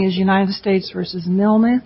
United States v. Milne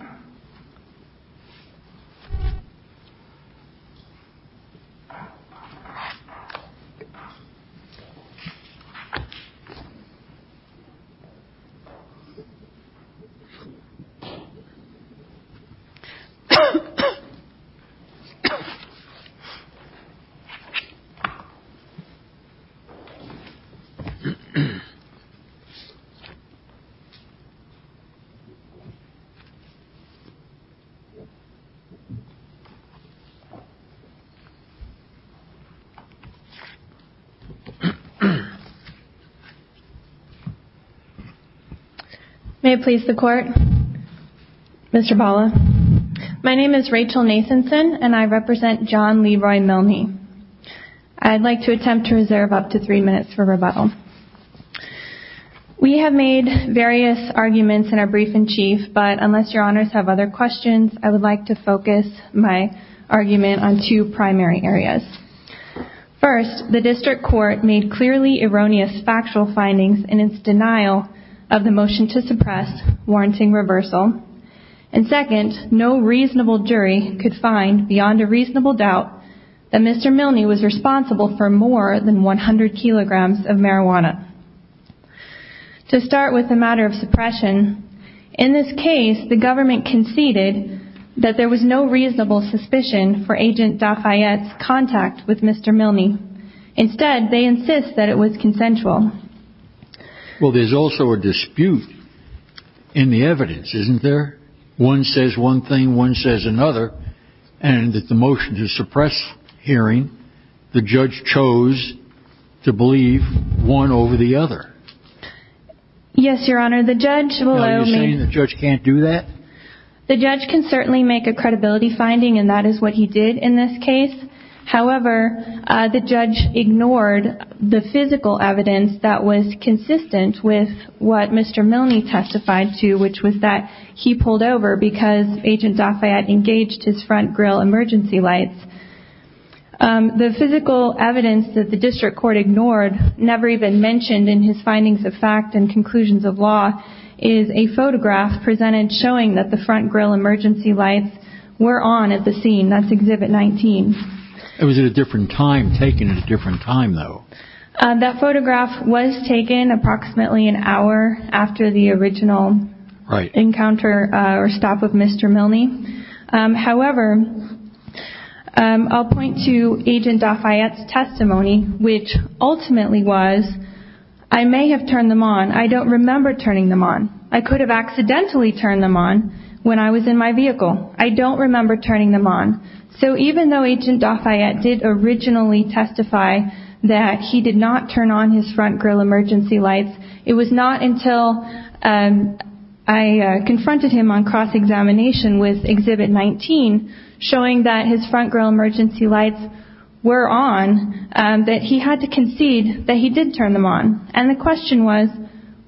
May it please the court, Mr. Paula, my name is Rachel Nathanson and I represent John Leroy Milne. I'd like to attempt to reserve up to three minutes for rebuttal. We have made various arguments in our brief in chief, but unless your honors have other questions, I would like to focus my argument on two primary areas. First, the district court made clearly erroneous factual findings in its denial of the motion to suppress warranting reversal. And second, no reasonable jury could find beyond a reasonable doubt that Mr. Milne was responsible for more than 100 kilograms of marijuana. To start with the matter of suppression, in this case, the government conceded that there was no reasonable suspicion for agent Dafayette's contact with Mr. Milne. Instead, they insist that it was consensual. Well, there's also a dispute in the evidence, isn't there? One says one thing, one says another, and that the motion to suppress hearing the judge chose to believe one over the other. Yes, your honor, the judge, the judge can't do that. The judge can certainly make a credibility finding and that is what he did in this case. However, the judge ignored the physical evidence that was consistent with what Mr. Milne testified to, which was that he pulled over because agent Dafayette engaged his front grill emergency lights. The physical evidence that the district court ignored, never even mentioned in his findings of fact and conclusions of law, is a photograph presented showing that the front grill emergency lights were on at the scene. That's Exhibit 19. It was at a different time taken at a different time, though. That photograph was taken approximately an hour after the original encounter or stop of Mr. Milne. However, I'll point to agent Dafayette's testimony, which ultimately was, I may have turned them on. I don't remember turning them on. I could have accidentally turned them on when I was in my vehicle. I don't remember turning them on. So even though agent Dafayette did originally testify that he did not turn on his front grill emergency lights, I confronted him on cross-examination with Exhibit 19, showing that his front grill emergency lights were on, that he had to concede that he did turn them on. And the question was,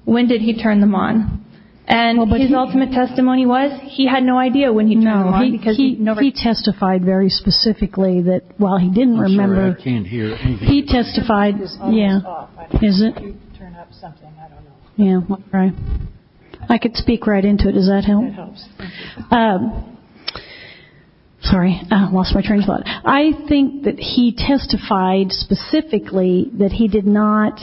when did he turn them on? And his ultimate testimony was he had no idea when he turned them on because he testified very specifically that while he didn't remember. He testified, yeah. I could speak right into it. Does that help? Sorry, I lost my train of thought. I think that he testified specifically that he did not,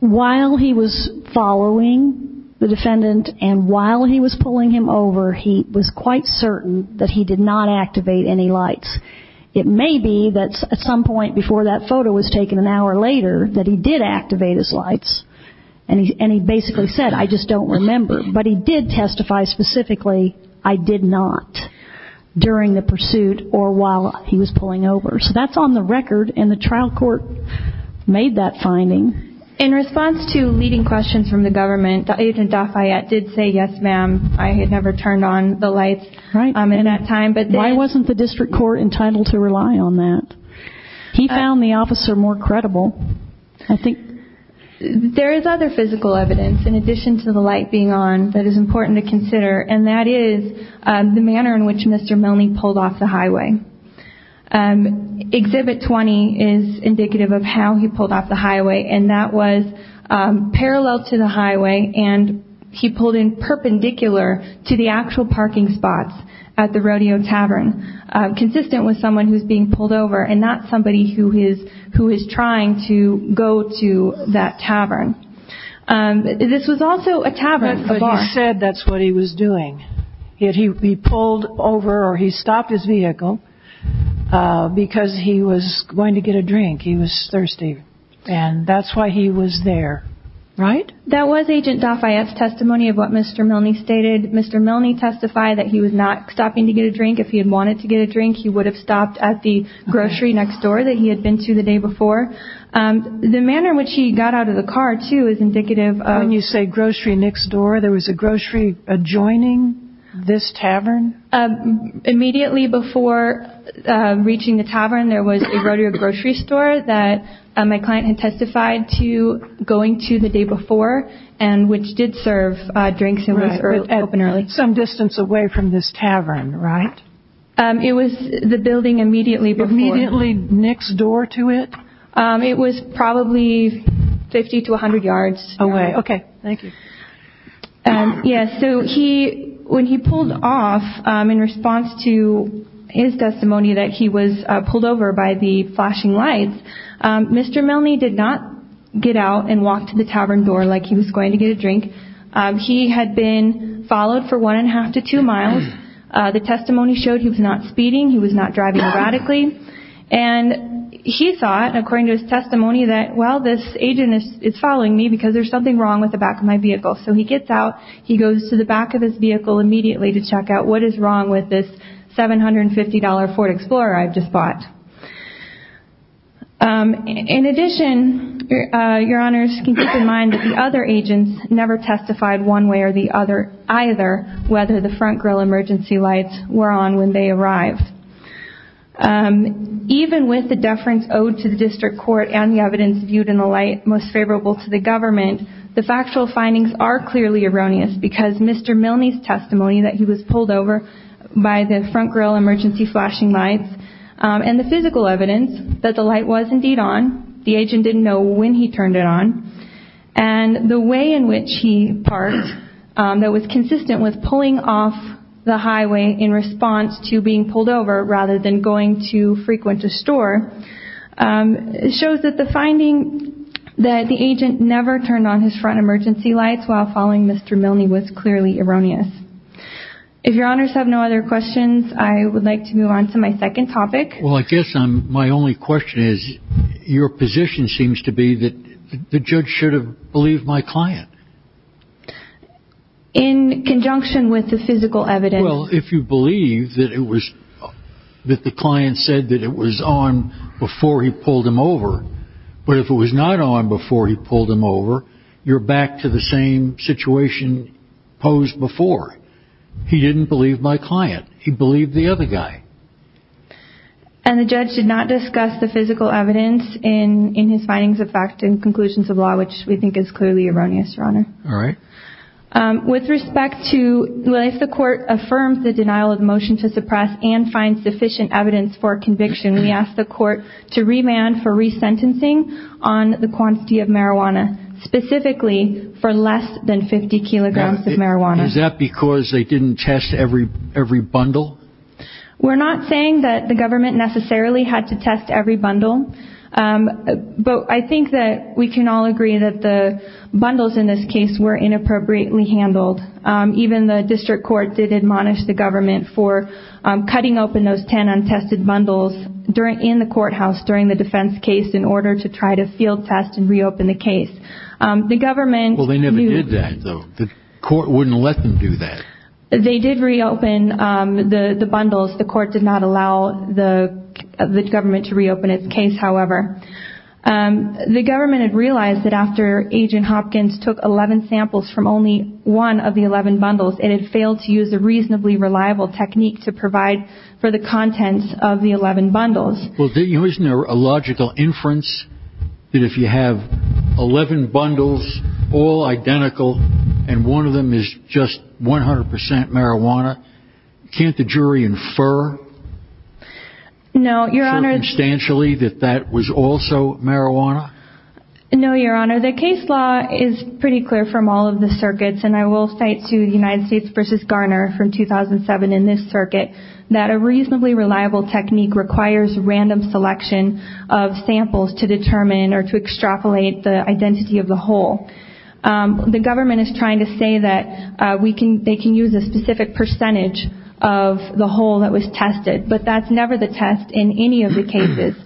while he was following the defendant and while he was pulling him over, he was quite certain that he did not activate any lights. It may be that at some point before that photo was taken, an hour later, that he did activate his lights. And he basically said, I just don't remember. But he did testify specifically, I did not, during the pursuit or while he was pulling over. So that's on the record. And the trial court made that finding. In response to leading questions from the government, agent Dafayette did say, yes, ma'am, I had never turned on the lights. Right. Why wasn't the district court entitled to rely on that? He found the officer more credible. There is other physical evidence, in addition to the light being on, that is important to consider. And that is the manner in which Mr. Milne pulled off the highway. Exhibit 20 is indicative of how he pulled off the highway. And that was parallel to the highway. And he pulled in perpendicular to the actual parking spots at the Rodeo Tavern, consistent with someone who's being pulled over and not somebody who is who is trying to go to that tavern. This was also a tavern. But he said that's what he was doing. He pulled over or he stopped his vehicle because he was going to get a drink. He was thirsty. And that's why he was there. Right. That was agent Dafayette's testimony of what Mr. Milne stated. Mr. Milne testified that he was not stopping to get a drink. If he had wanted to get a drink, he would have stopped at the grocery next door that he had been to the day before. The manner in which he got out of the car, too, is indicative of you say grocery next door. There was a grocery adjoining this tavern immediately before reaching the tavern. There was a grocery store that my client had testified to going to the day before and which did serve drinks and was open early. Some distance away from this tavern. Right. It was the building immediately immediately next door to it. It was probably 50 to 100 yards away. OK. Thank you. Yes. So he when he pulled off in response to his testimony that he was pulled over by the flashing lights. Mr. Milne did not get out and walk to the tavern door like he was going to get a drink. He had been followed for one and a half to two miles. The testimony showed he was not speeding. He was not driving radically. And he thought, according to his testimony, that, well, this agent is following me because there's something wrong with the back of my vehicle. So he gets out. He goes to the back of his vehicle immediately to check out what is wrong with this $750 Ford Explorer I've just bought. In addition, your honors can keep in mind that the other agents never testified one way or the other, either, whether the front grill emergency lights were on when they arrived. Even with the deference owed to the district court and the evidence viewed in the light most favorable to the government, the factual findings are clearly erroneous because Mr. Milne's testimony that he was pulled over by the front grill emergency flashing lights and the physical evidence that the light was indeed on, the agent didn't know when he turned it on. And the way in which he parked that was consistent with pulling off the highway in response to being pulled over rather than going to frequent a store shows that the finding that the agent never turned on his front emergency lights while following Mr. Milne was clearly erroneous. If your honors have no other questions, I would like to move on to my second topic. Well, I guess my only question is, your position seems to be that the judge should have believed my client. In conjunction with the physical evidence. Well, if you believe that it was that the client said that it was on before he pulled him over, but if it was not on before he pulled him over, you're back to the same situation posed before. He didn't believe my client. He believed the other guy. And the judge did not discuss the physical evidence in his findings of fact and conclusions of law, which we think is clearly erroneous, your honor. All right. With respect to life, the court affirms the denial of motion to suppress and find sufficient evidence for conviction. We asked the court to remand for resentencing on the quantity of marijuana, specifically for less than 50 kilograms of marijuana. Is that because they didn't test every every bundle? We're not saying that the government necessarily had to test every bundle, but I think that we can all agree that the bundles in this case were inappropriately handled. Even the district court did admonish the government for cutting open those 10 untested bundles during in the courthouse, during the defense case, in order to try to field test and reopen the case. The government. Well, they never did that, though. The court wouldn't let them do that. They did reopen the bundles. The court did not allow the government to reopen its case, however. The government had realized that after Agent Hopkins took 11 samples from only one of the 11 bundles, it had failed to use a reasonably reliable technique to provide for the contents of the 11 bundles. Well, isn't there a logical inference that if you have 11 bundles, all identical and one of them is just 100 percent marijuana, can't the jury infer? No, Your Honor. Circumstantially, that that was also marijuana? No, Your Honor. The case law is pretty clear from all of the circuits, and I will cite to the United States versus Garner from 2007 in this circuit, that a reasonably reliable technique requires random selection of samples to determine or to extrapolate the identity of the whole. The government is trying to say that we can they can use a specific percentage of the whole that was tested, but that's never the test in any of the cases.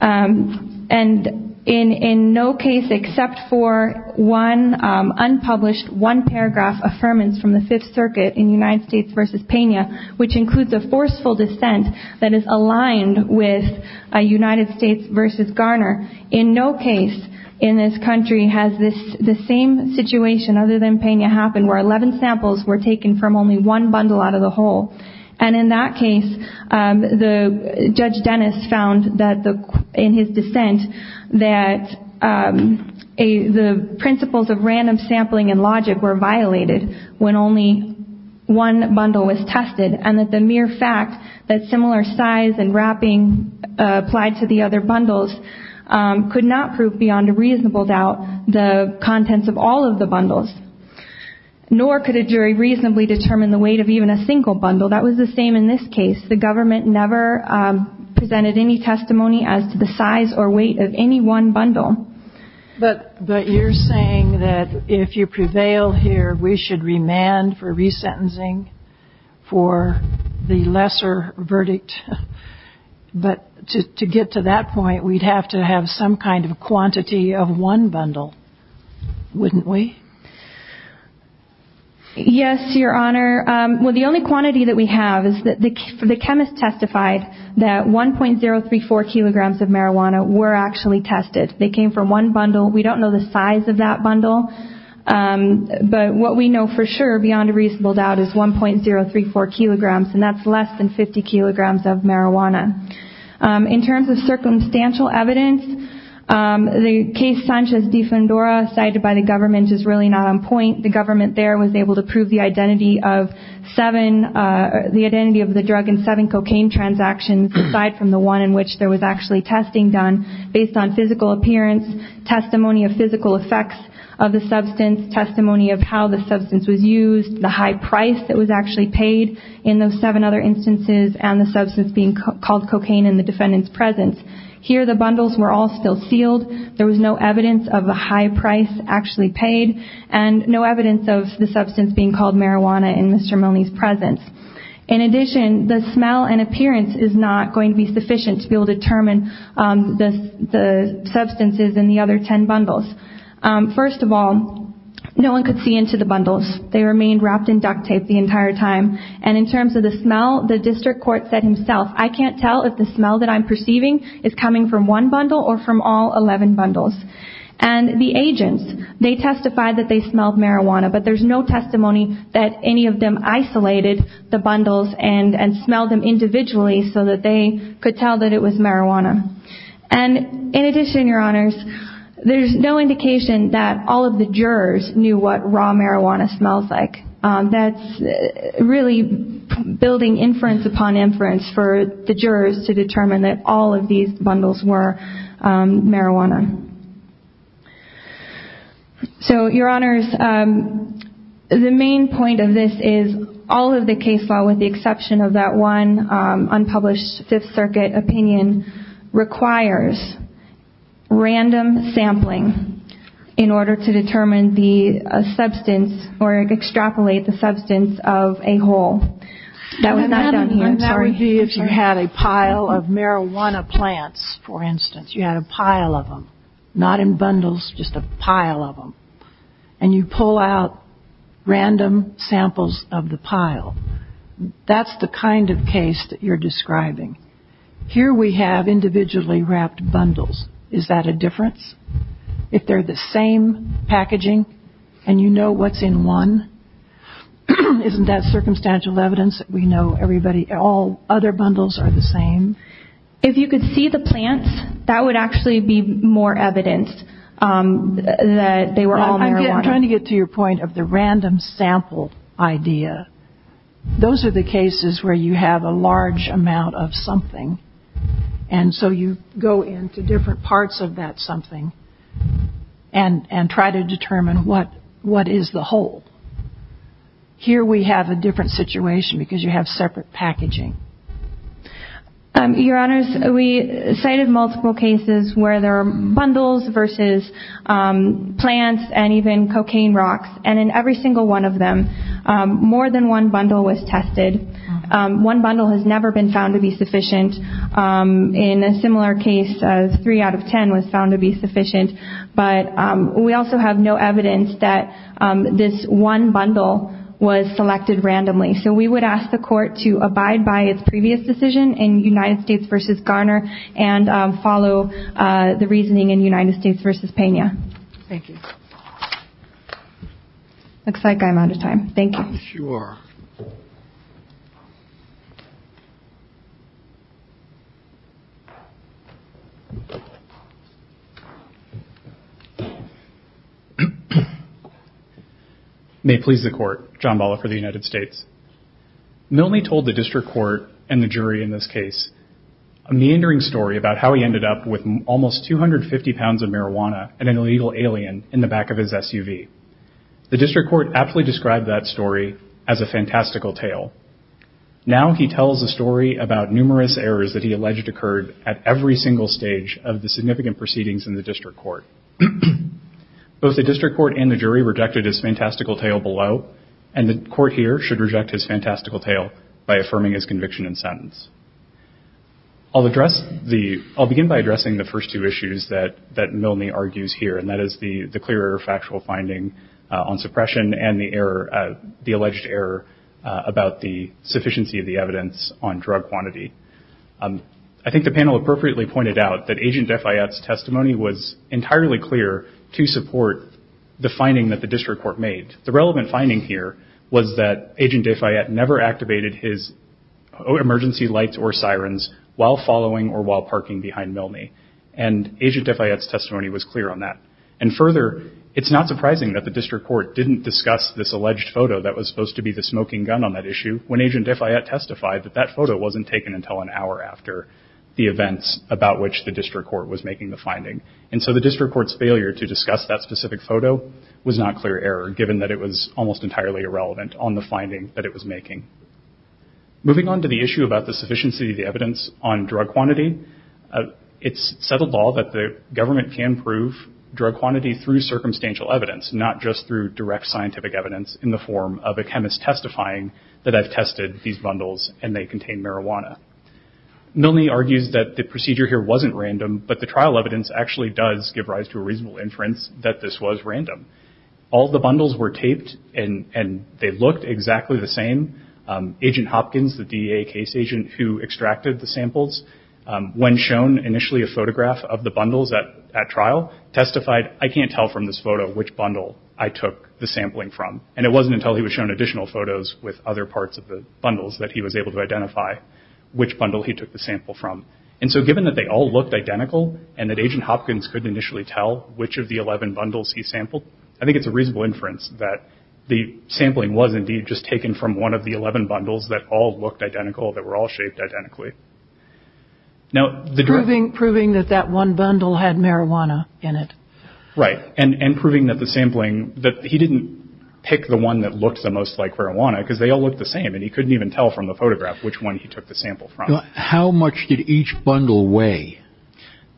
And in no case except for one unpublished one paragraph affirmance from the Fifth Circuit in United States versus Pena, which includes a forceful dissent that is aligned with a United States versus Garner. In no case in this country has this the same situation other than Pena happened where 11 samples were taken from only one bundle out of the whole. And in that case, the Judge Dennis found that in his dissent that the principles of random sampling and logic were violated when only one bundle was tested, and that the mere fact that similar size and wrapping applied to the other bundles could not prove beyond a reasonable doubt the contents of all of the bundles, nor could a jury reasonably determine the weight of even a single bundle. That was the same in this case. The government never presented any testimony as to the size or weight of any one bundle. But but you're saying that if you prevail here, we should remand for resentencing for the lesser verdict. But to get to that point, we'd have to have some kind of quantity of one bundle, wouldn't we? Yes, Your Honor, well, the only quantity that we have is that the chemist testified that 1.034 kilograms of marijuana were actually tested. They came from one bundle. We don't know the size of that bundle, but what we know for sure beyond a reasonable doubt is 1.034 kilograms, and that's less than 50 kilograms of marijuana. In terms of circumstantial evidence, the case Sanchez de Fundora cited by the government is really not on point. The government there was able to prove the identity of seven, the identity of the drug in seven cocaine transactions, aside from the one in which there was actually testing done based on physical appearance, testimony of physical effects of the substance, testimony of how the substance was used, the high price that was actually paid in those seven other instances, and the substance being called cocaine in the defendant's presence. Here, the bundles were all still sealed. There was no evidence of a high price actually paid and no evidence of the substance being called marijuana in Mr. Milne's presence. In addition, the smell and appearance is not going to be sufficient to be able to determine the substances in the other 10 bundles. First of all, no one could see into the bundles. They remained wrapped in duct tape the entire time. And in terms of the smell, the district court said himself, I can't tell if the smell that I'm perceiving is coming from one bundle or from all 11 bundles. And the agents, they testified that they smelled marijuana, but there's no testimony that any of them isolated the bundles and smelled them individually so that they could tell that it was marijuana. And in addition, Your Honors, there's no indication that all of the jurors knew what raw marijuana smells like. That's really building inference upon inference for the jurors to determine that all of these bundles were marijuana. So, Your Honors, the main point of this is all of the case law, with the exception of that one unpublished Fifth Circuit opinion, requires random sampling in order to determine the substance or extrapolate the substance of a whole. That was not done here, sorry. And that would be if you had a pile of marijuana plants, for instance. You had a pile of them, not in bundles, just a pile of them. And you pull out random samples of the pile. That's the kind of case that you're describing. Here we have individually wrapped bundles. Is that a difference? If they're the same packaging and you know what's in one, isn't that circumstantial evidence that we know everybody, all other bundles are the same? If you could see the plants, that would actually be more evidence that they were all marijuana. I'm trying to get to your point of the random sample idea. Those are the cases where you have a large amount of something. And so you go into different parts of that something and try to determine what is the whole. Here we have a different situation because you have separate packaging. Your Honors, we cited multiple cases where there are bundles versus plants and even cocaine rocks. And in every single one of them, more than one bundle was tested. One bundle has never been found to be sufficient. In a similar case, three out of 10 was found to be sufficient. But we also have no evidence that this one bundle was selected randomly. So we would ask the court to abide by its previous decision in United States versus Garner and follow the reasoning in United States versus Pena. Thank you. Looks like I'm out of time. Thank you. I'm sure. May it please the court, John Balla for the United States. Milne told the district court and the jury in this case a meandering story about how he ended up with almost 250 pounds of marijuana and an illegal alien in the back of his SUV. The district court aptly described that story as a fantastical tale. Now he tells a story about numerous errors that he alleged occurred at every single stage of the significant proceedings in the district court. Both the district court and the jury rejected his fantastical tale below and the court here should reject his fantastical tale by affirming his conviction and sentence. I'll begin by addressing the first two issues that Milne argues here and that is the clear factual finding on suppression and the error, the alleged error about the sufficiency of the evidence on drug quantity. I think the panel appropriately pointed out that Agent Defiat's testimony was entirely clear to support the finding that the district court made. The relevant finding here was that Agent Defiat never activated his emergency lights or sirens while following or while parking behind Milne and Agent Defiat's testimony was clear on that. And further, it's not surprising that the district court didn't discuss this alleged photo that was supposed to be the smoking gun on that issue when Agent Defiat testified that that photo wasn't taken until an hour after the events about which the district court was making the finding. And so the district court's failure to discuss that specific photo was not clear error given that it was almost entirely irrelevant on the finding that it was making. Moving on to the issue about the sufficiency of the evidence on drug quantity, it's settled law that the government can prove drug quantity through circumstantial evidence, not just through direct scientific evidence in the form of a chemist testifying that I've tested these bundles and they contain marijuana. Milne argues that the procedure here wasn't random, but the trial evidence actually does give rise to a reasonable inference that this was random. All the bundles were taped and they looked exactly the same. Agent Hopkins, the DA case agent who extracted the samples, when shown initially a photograph of the bundles at trial, testified I can't tell from this photo which bundle I took the sampling from. And it wasn't until he was shown additional photos with other parts of the bundles that he was able to identify. Which bundle he took the sample from. And so given that they all looked identical and that Agent Hopkins could initially tell which of the 11 bundles he sampled, I think it's a reasonable inference that the sampling was indeed just taken from one of the 11 bundles that all looked identical, that were all shaped identically. Now proving that that one bundle had marijuana in it. Right. And proving that the sampling, that he didn't pick the one that looked the most like marijuana because they all looked the same and he couldn't even tell from the photograph which one he took the sample from. How much did each bundle weigh?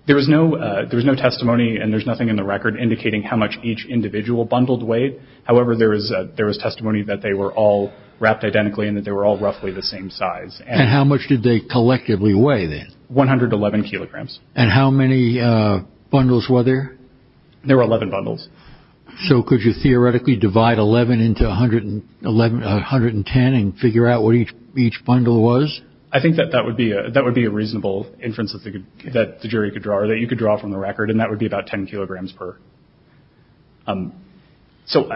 There was no there was no testimony and there's nothing in the record indicating how much each individual bundled weighed. However, there was there was testimony that they were all wrapped identically and that they were all roughly the same size. And how much did they collectively weigh then? 111 kilograms. And how many bundles were there? There were 11 bundles. So could you theoretically divide 11 into 110 and figure out what each each bundle was? I think that that would be that would be a reasonable inference that the jury could draw or that you could draw from the record. And that would be about 10 kilograms per. So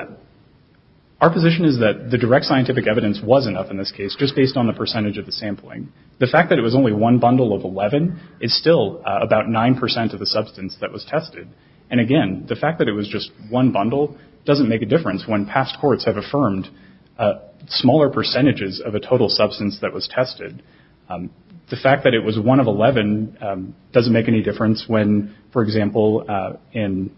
our position is that the direct scientific evidence was enough in this case, just based on the percentage of the sampling. The fact that it was only one bundle of 11 is still about 9 percent of the substance that was tested. And again, the fact that it was just one bundle doesn't make a difference when past courts have affirmed smaller percentages of a total substance that was tested. The fact that it was one of 11 doesn't make any difference when, for example, in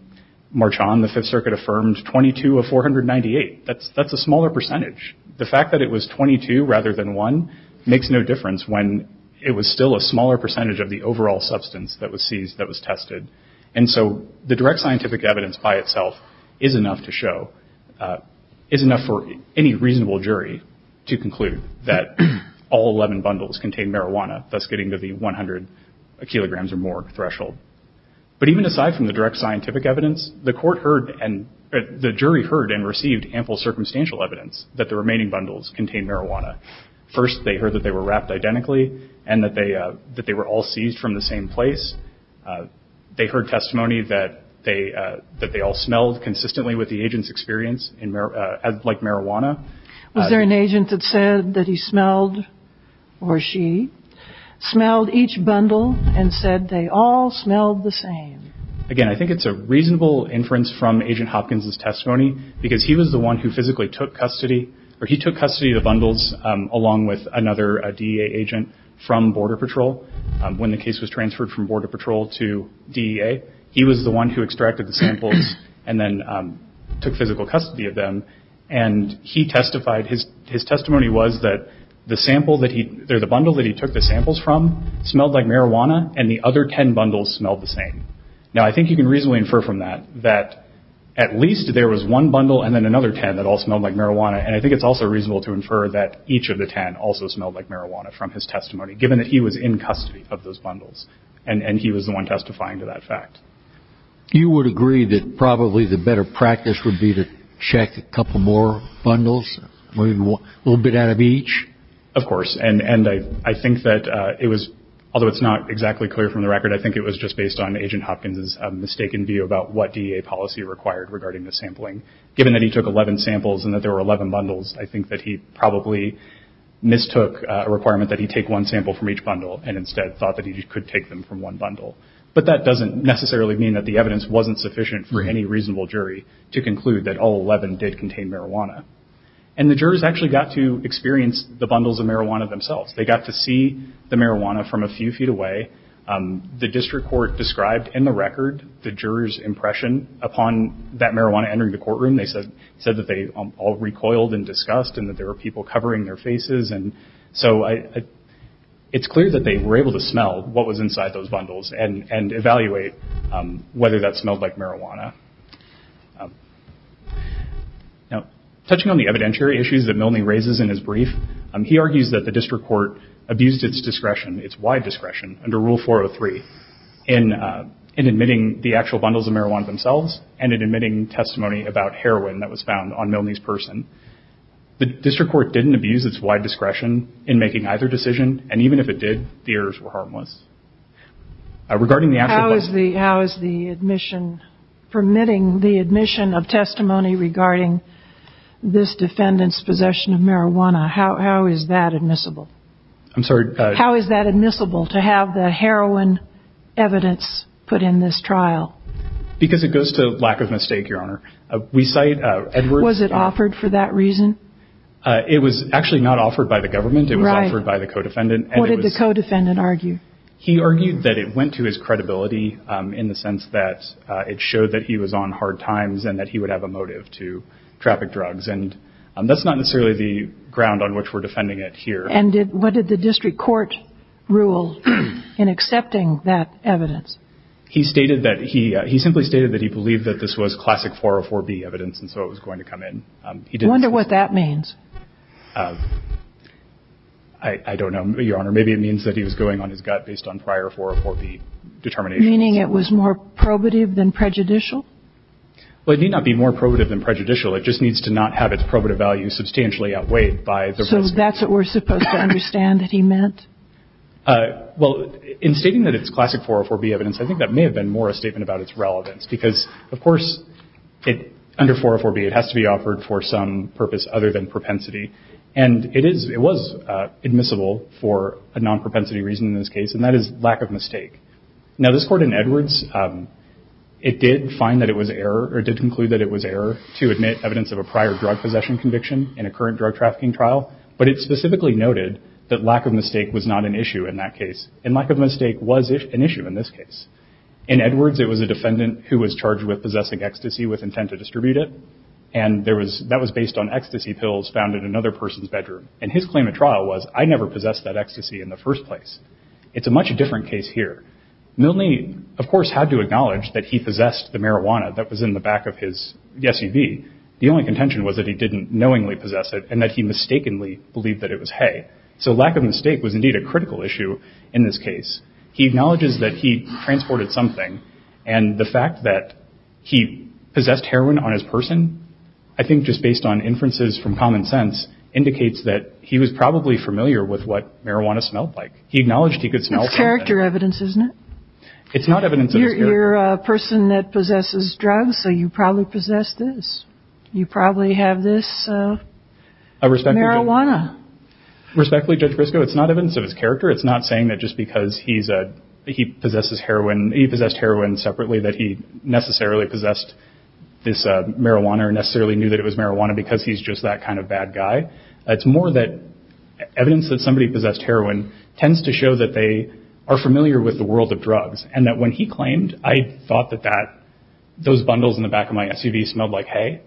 March on the Fifth Circuit affirmed 22 of 498. That's that's a smaller percentage. The fact that it was 22 rather than one makes no difference when it was still a smaller percentage of the overall substance that was seized that was tested. And so the direct scientific evidence by itself is enough to show is enough for any reasonable jury to conclude that all 11 bundles contain marijuana, thus getting to the 100 kilograms or more threshold. But even aside from the direct scientific evidence, the court heard and the jury heard and received ample circumstantial evidence that the remaining bundles contain marijuana. First, they heard that they were wrapped identically and that they that they were all seized from the same place. They heard testimony that they that they all smelled consistently with the agent's experience in like marijuana. Was there an agent that said that he smelled or she smelled each bundle and said they all smelled the same? Again, I think it's a reasonable inference from Agent Hopkins's testimony because he was the one who physically took custody or he took custody of the bundles along with another DEA agent from Border Patrol. When the case was transferred from Border Patrol to DEA, he was the one who extracted the samples and then took physical custody of them. And he testified his his testimony was that the sample that he there the bundle that he took the samples from smelled like marijuana and the other 10 bundles smelled the same. Now, I think you can reasonably infer from that that at least there was one bundle and then another 10 that all smelled like marijuana. And I think it's also reasonable to infer that each of the 10 also smelled like marijuana from his testimony, given that he was in custody of those bundles and he was the one testifying to that fact. You would agree that probably the better practice would be to check a couple more bundles, maybe a little bit out of each? Of course. And I think that it was although it's not exactly clear from the record, I think it was just based on Agent Hopkins's mistaken view about what DEA policy required regarding the sampling. Given that he took 11 samples and that there were 11 bundles, I think that he probably mistook a requirement that he take one sample from each bundle and instead thought that he could take them from one bundle. But that doesn't necessarily mean that the evidence wasn't sufficient for any reasonable jury to conclude that all 11 did contain marijuana. And the jurors actually got to experience the bundles of marijuana themselves. They got to see the marijuana from a few feet away. The district court described in the record the jurors' impression upon that marijuana entering the courtroom. They said that they all recoiled in disgust and that there were people covering their faces. And so it's clear that they were able to smell what was inside those bundles and evaluate whether that smelled like marijuana. Touching on the evidentiary issues that Milne raises in his brief, he argues that the district court abused its discretion, its wide discretion, under Rule 403 in admitting the actual bundles of marijuana themselves and in admitting testimony about heroin that was found on Milne's person. The district court didn't abuse its wide discretion in making either decision, and even if it did, the errors were harmless. Regarding the actual bundles... How is the admission, permitting the admission of testimony regarding this defendant's possession of marijuana, how is that admissible? I'm sorry? How is that admissible, to have the heroin evidence put in this trial? Because it goes to lack of mistake, Your Honor. We cite Edwards... Was it offered for that reason? It was actually not offered by the government. It was offered by the co-defendant. What did the co-defendant argue? He argued that it went to his credibility in the sense that it showed that he was on hard times and that he would have a motive to traffic drugs. And that's not necessarily the ground on which we're defending it here. And what did the district court rule in accepting that evidence? He stated that he simply stated that he believed that this was classic 404B evidence, and so it was going to come in. I wonder what that means. I don't know, Your Honor. Maybe it means that he was going on his gut based on prior 404B determinations. Meaning it was more probative than prejudicial? Well, it may not be more probative than prejudicial. It just needs to not have its probative value substantially outweighed by the... So that's what we're supposed to understand that he meant? Well, in stating that it's classic 404B evidence, I think that may have been more a statement about its relevance. Because, of course, under 404B, it has to be offered for some purpose other than propensity. And it was admissible for a non-propensity reason in this case, and that is lack of mistake. Now, this court in Edwards, it did find that it was error or did conclude that it was error to admit evidence of a prior drug possession conviction in a current drug trafficking trial. But it specifically noted that lack of mistake was not an issue in that case. And lack of mistake was an issue in this case. In Edwards, it was a defendant who was charged with possessing ecstasy with intent to distribute it. And that was based on ecstasy pills found in another person's bedroom. And his claim of trial was, I never possessed that ecstasy in the first place. It's a much different case here. Milne, of course, had to acknowledge that he possessed the marijuana that was in the back of his SUV. The only contention was that he didn't knowingly possess it and that he mistakenly believed that it was hay. So lack of mistake was indeed a critical issue in this case. He acknowledges that he transported something. And the fact that he possessed heroin on his person, I think just based on inferences from common sense, indicates that he was probably familiar with what marijuana smelled like. He acknowledged he could smell. It's character evidence, isn't it? It's not evidence. You're a person that possesses drugs, so you probably possess this. You probably have this. I respect marijuana. Respectfully, Judge Briscoe, it's not evidence of his character. It's not saying that just because he's a he possesses heroin, he possessed heroin separately, that he necessarily possessed this marijuana or necessarily knew that it was marijuana because he's just that kind of bad guy. It's more that evidence that somebody possessed heroin tends to show that they are familiar with the world of drugs and that when he claimed I thought that that those bundles in the back of my SUV smelled like hay.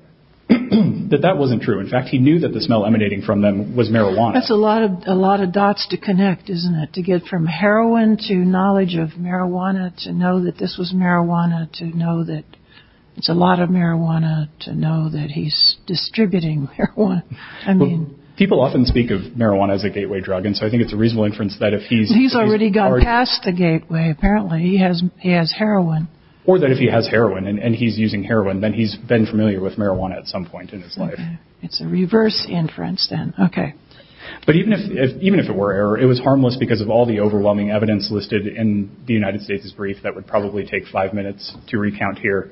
But that wasn't true. In fact, he knew that the smell emanating from them was marijuana. That's a lot of a lot of dots to connect, isn't it? To get from heroin to knowledge of marijuana, to know that this was marijuana, to know that it's a lot of marijuana, to know that he's distributing heroin. I mean, people often speak of marijuana as a gateway drug. And so I think it's a reasonable inference that if he's he's already got past the gateway, apparently he has he has heroin or that if he has heroin and he's using heroin, then he's been familiar with marijuana. At some point in his life, it's a reverse inference. And OK, but even if even if it were error, it was harmless because of all the overwhelming evidence listed in the United States is brief. That would probably take five minutes to recount here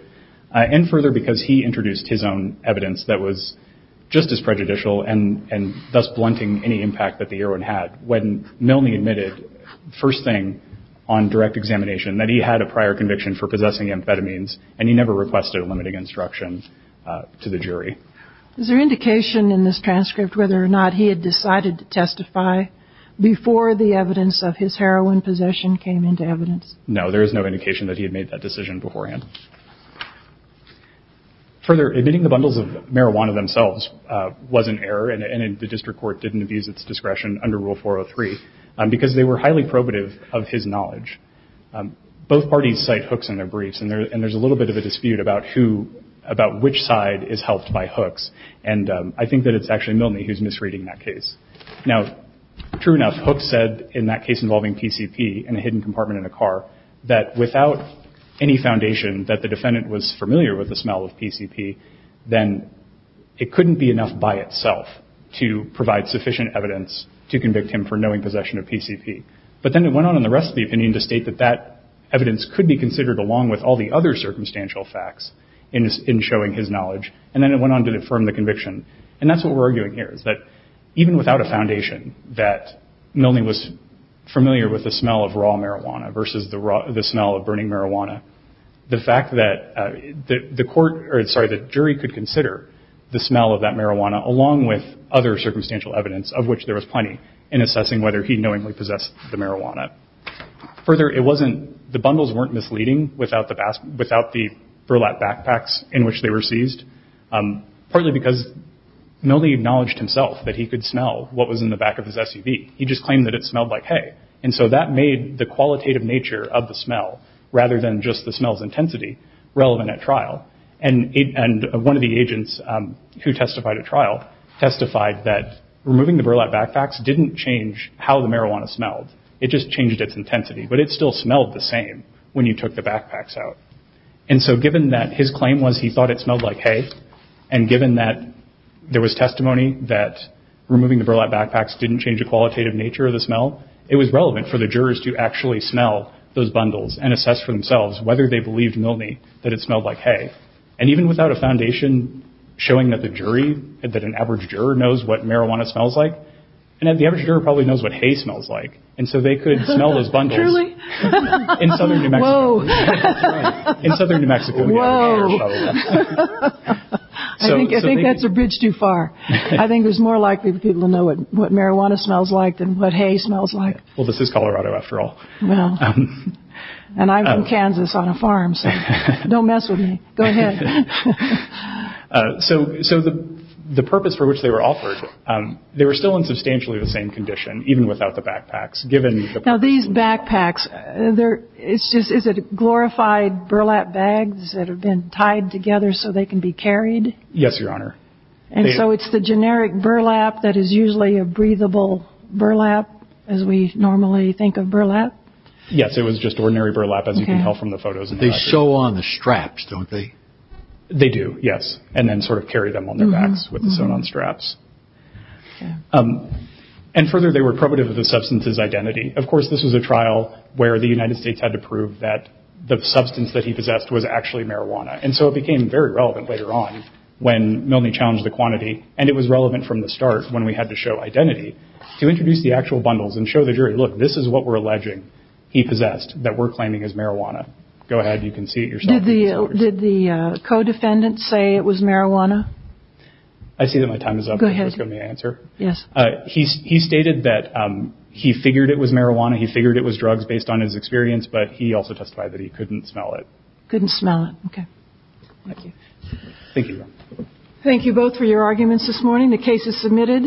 and further because he introduced his own evidence that was just as prejudicial and and thus blunting any impact that the heroin had. When Milne admitted first thing on direct examination that he had a prior conviction for possessing amphetamines and he never requested a limiting instruction to the jury. Is there indication in this transcript whether or not he had decided to testify before the evidence of his heroin possession came into evidence? No, there is no indication that he had made that decision beforehand. Further, admitting the bundles of marijuana themselves was an error and the district court didn't abuse its discretion under Rule 403 because they were highly probative of his knowledge. Both parties cite hooks in their briefs and there's a little bit of a dispute about who about which side is helped by hooks. And I think that it's actually Milne who's misreading that case. Now, true enough, hooks said in that case involving PCP and a hidden compartment in a car that without any foundation that the defendant was familiar with the smell of PCP, then it couldn't be enough by itself to provide sufficient evidence to convict him for knowing possession of PCP. But then it went on in the rest of the opinion to state that that evidence could be considered along with all the other circumstantial facts in showing his knowledge. And then it went on to affirm the conviction. And that's what we're arguing here is that even without a foundation that Milne was familiar with the smell of raw marijuana versus the smell of burning marijuana, the fact that the jury could consider the smell of that marijuana along with other circumstantial evidence of which there was plenty in assessing whether he knowingly possessed the marijuana. Further, the bundles weren't misleading without the burlap backpacks in which they were seized. Partly because Milne acknowledged himself that he could smell what was in the back of his SUV. He just claimed that it smelled like hay. And so that made the qualitative nature of the smell rather than just the smell's intensity relevant at trial. And one of the agents who testified at trial testified that removing the burlap backpacks didn't change how the marijuana smelled. It just changed its intensity. But it still smelled the same when you took the backpacks out. And so given that his claim was he thought it smelled like hay and given that there was testimony that removing the burlap backpacks didn't change a qualitative nature of the smell, it was relevant for the jurors to actually smell those bundles and assess for themselves whether they believed Milne that it smelled like hay. And even without a foundation showing that the jury that an average juror knows what marijuana smells like and the average juror probably knows what hay smells like. And so they could smell those bundles in southern New Mexico. In southern New Mexico. Well, I think that's a bridge too far. I think there's more likely for people to know what marijuana smells like than what hay smells like. Well, this is Colorado, after all. Well, and I'm in Kansas on a farm. Don't mess with me. Go ahead. So. So the purpose for which they were offered, they were still in substantially the same condition, even without the backpacks. Now, these backpacks, is it glorified burlap bags that have been tied together so they can be carried? Yes, Your Honor. And so it's the generic burlap that is usually a breathable burlap, as we normally think of burlap? Yes, it was just ordinary burlap, as you can tell from the photos. They show on the straps, don't they? They do, yes. And then sort of carry them on their backs with the sewn on straps. And further, they were probative of the substance's identity. Of course, this was a trial where the United States had to prove that the substance that he possessed was actually marijuana. And so it became very relevant later on when Milne challenged the quantity. And it was relevant from the start when we had to show identity to introduce the actual bundles and show the jury, look, this is what we're alleging. He possessed that we're claiming as marijuana. Go ahead. You can see it yourself. Did the co-defendant say it was marijuana? I see that my time is up. Go ahead. Just give me an answer. Yes. He stated that he figured it was marijuana. He figured it was drugs based on his experience. But he also testified that he couldn't smell it. Couldn't smell it. OK. Thank you. Thank you. Thank you both for your arguments this morning. The case is submitted.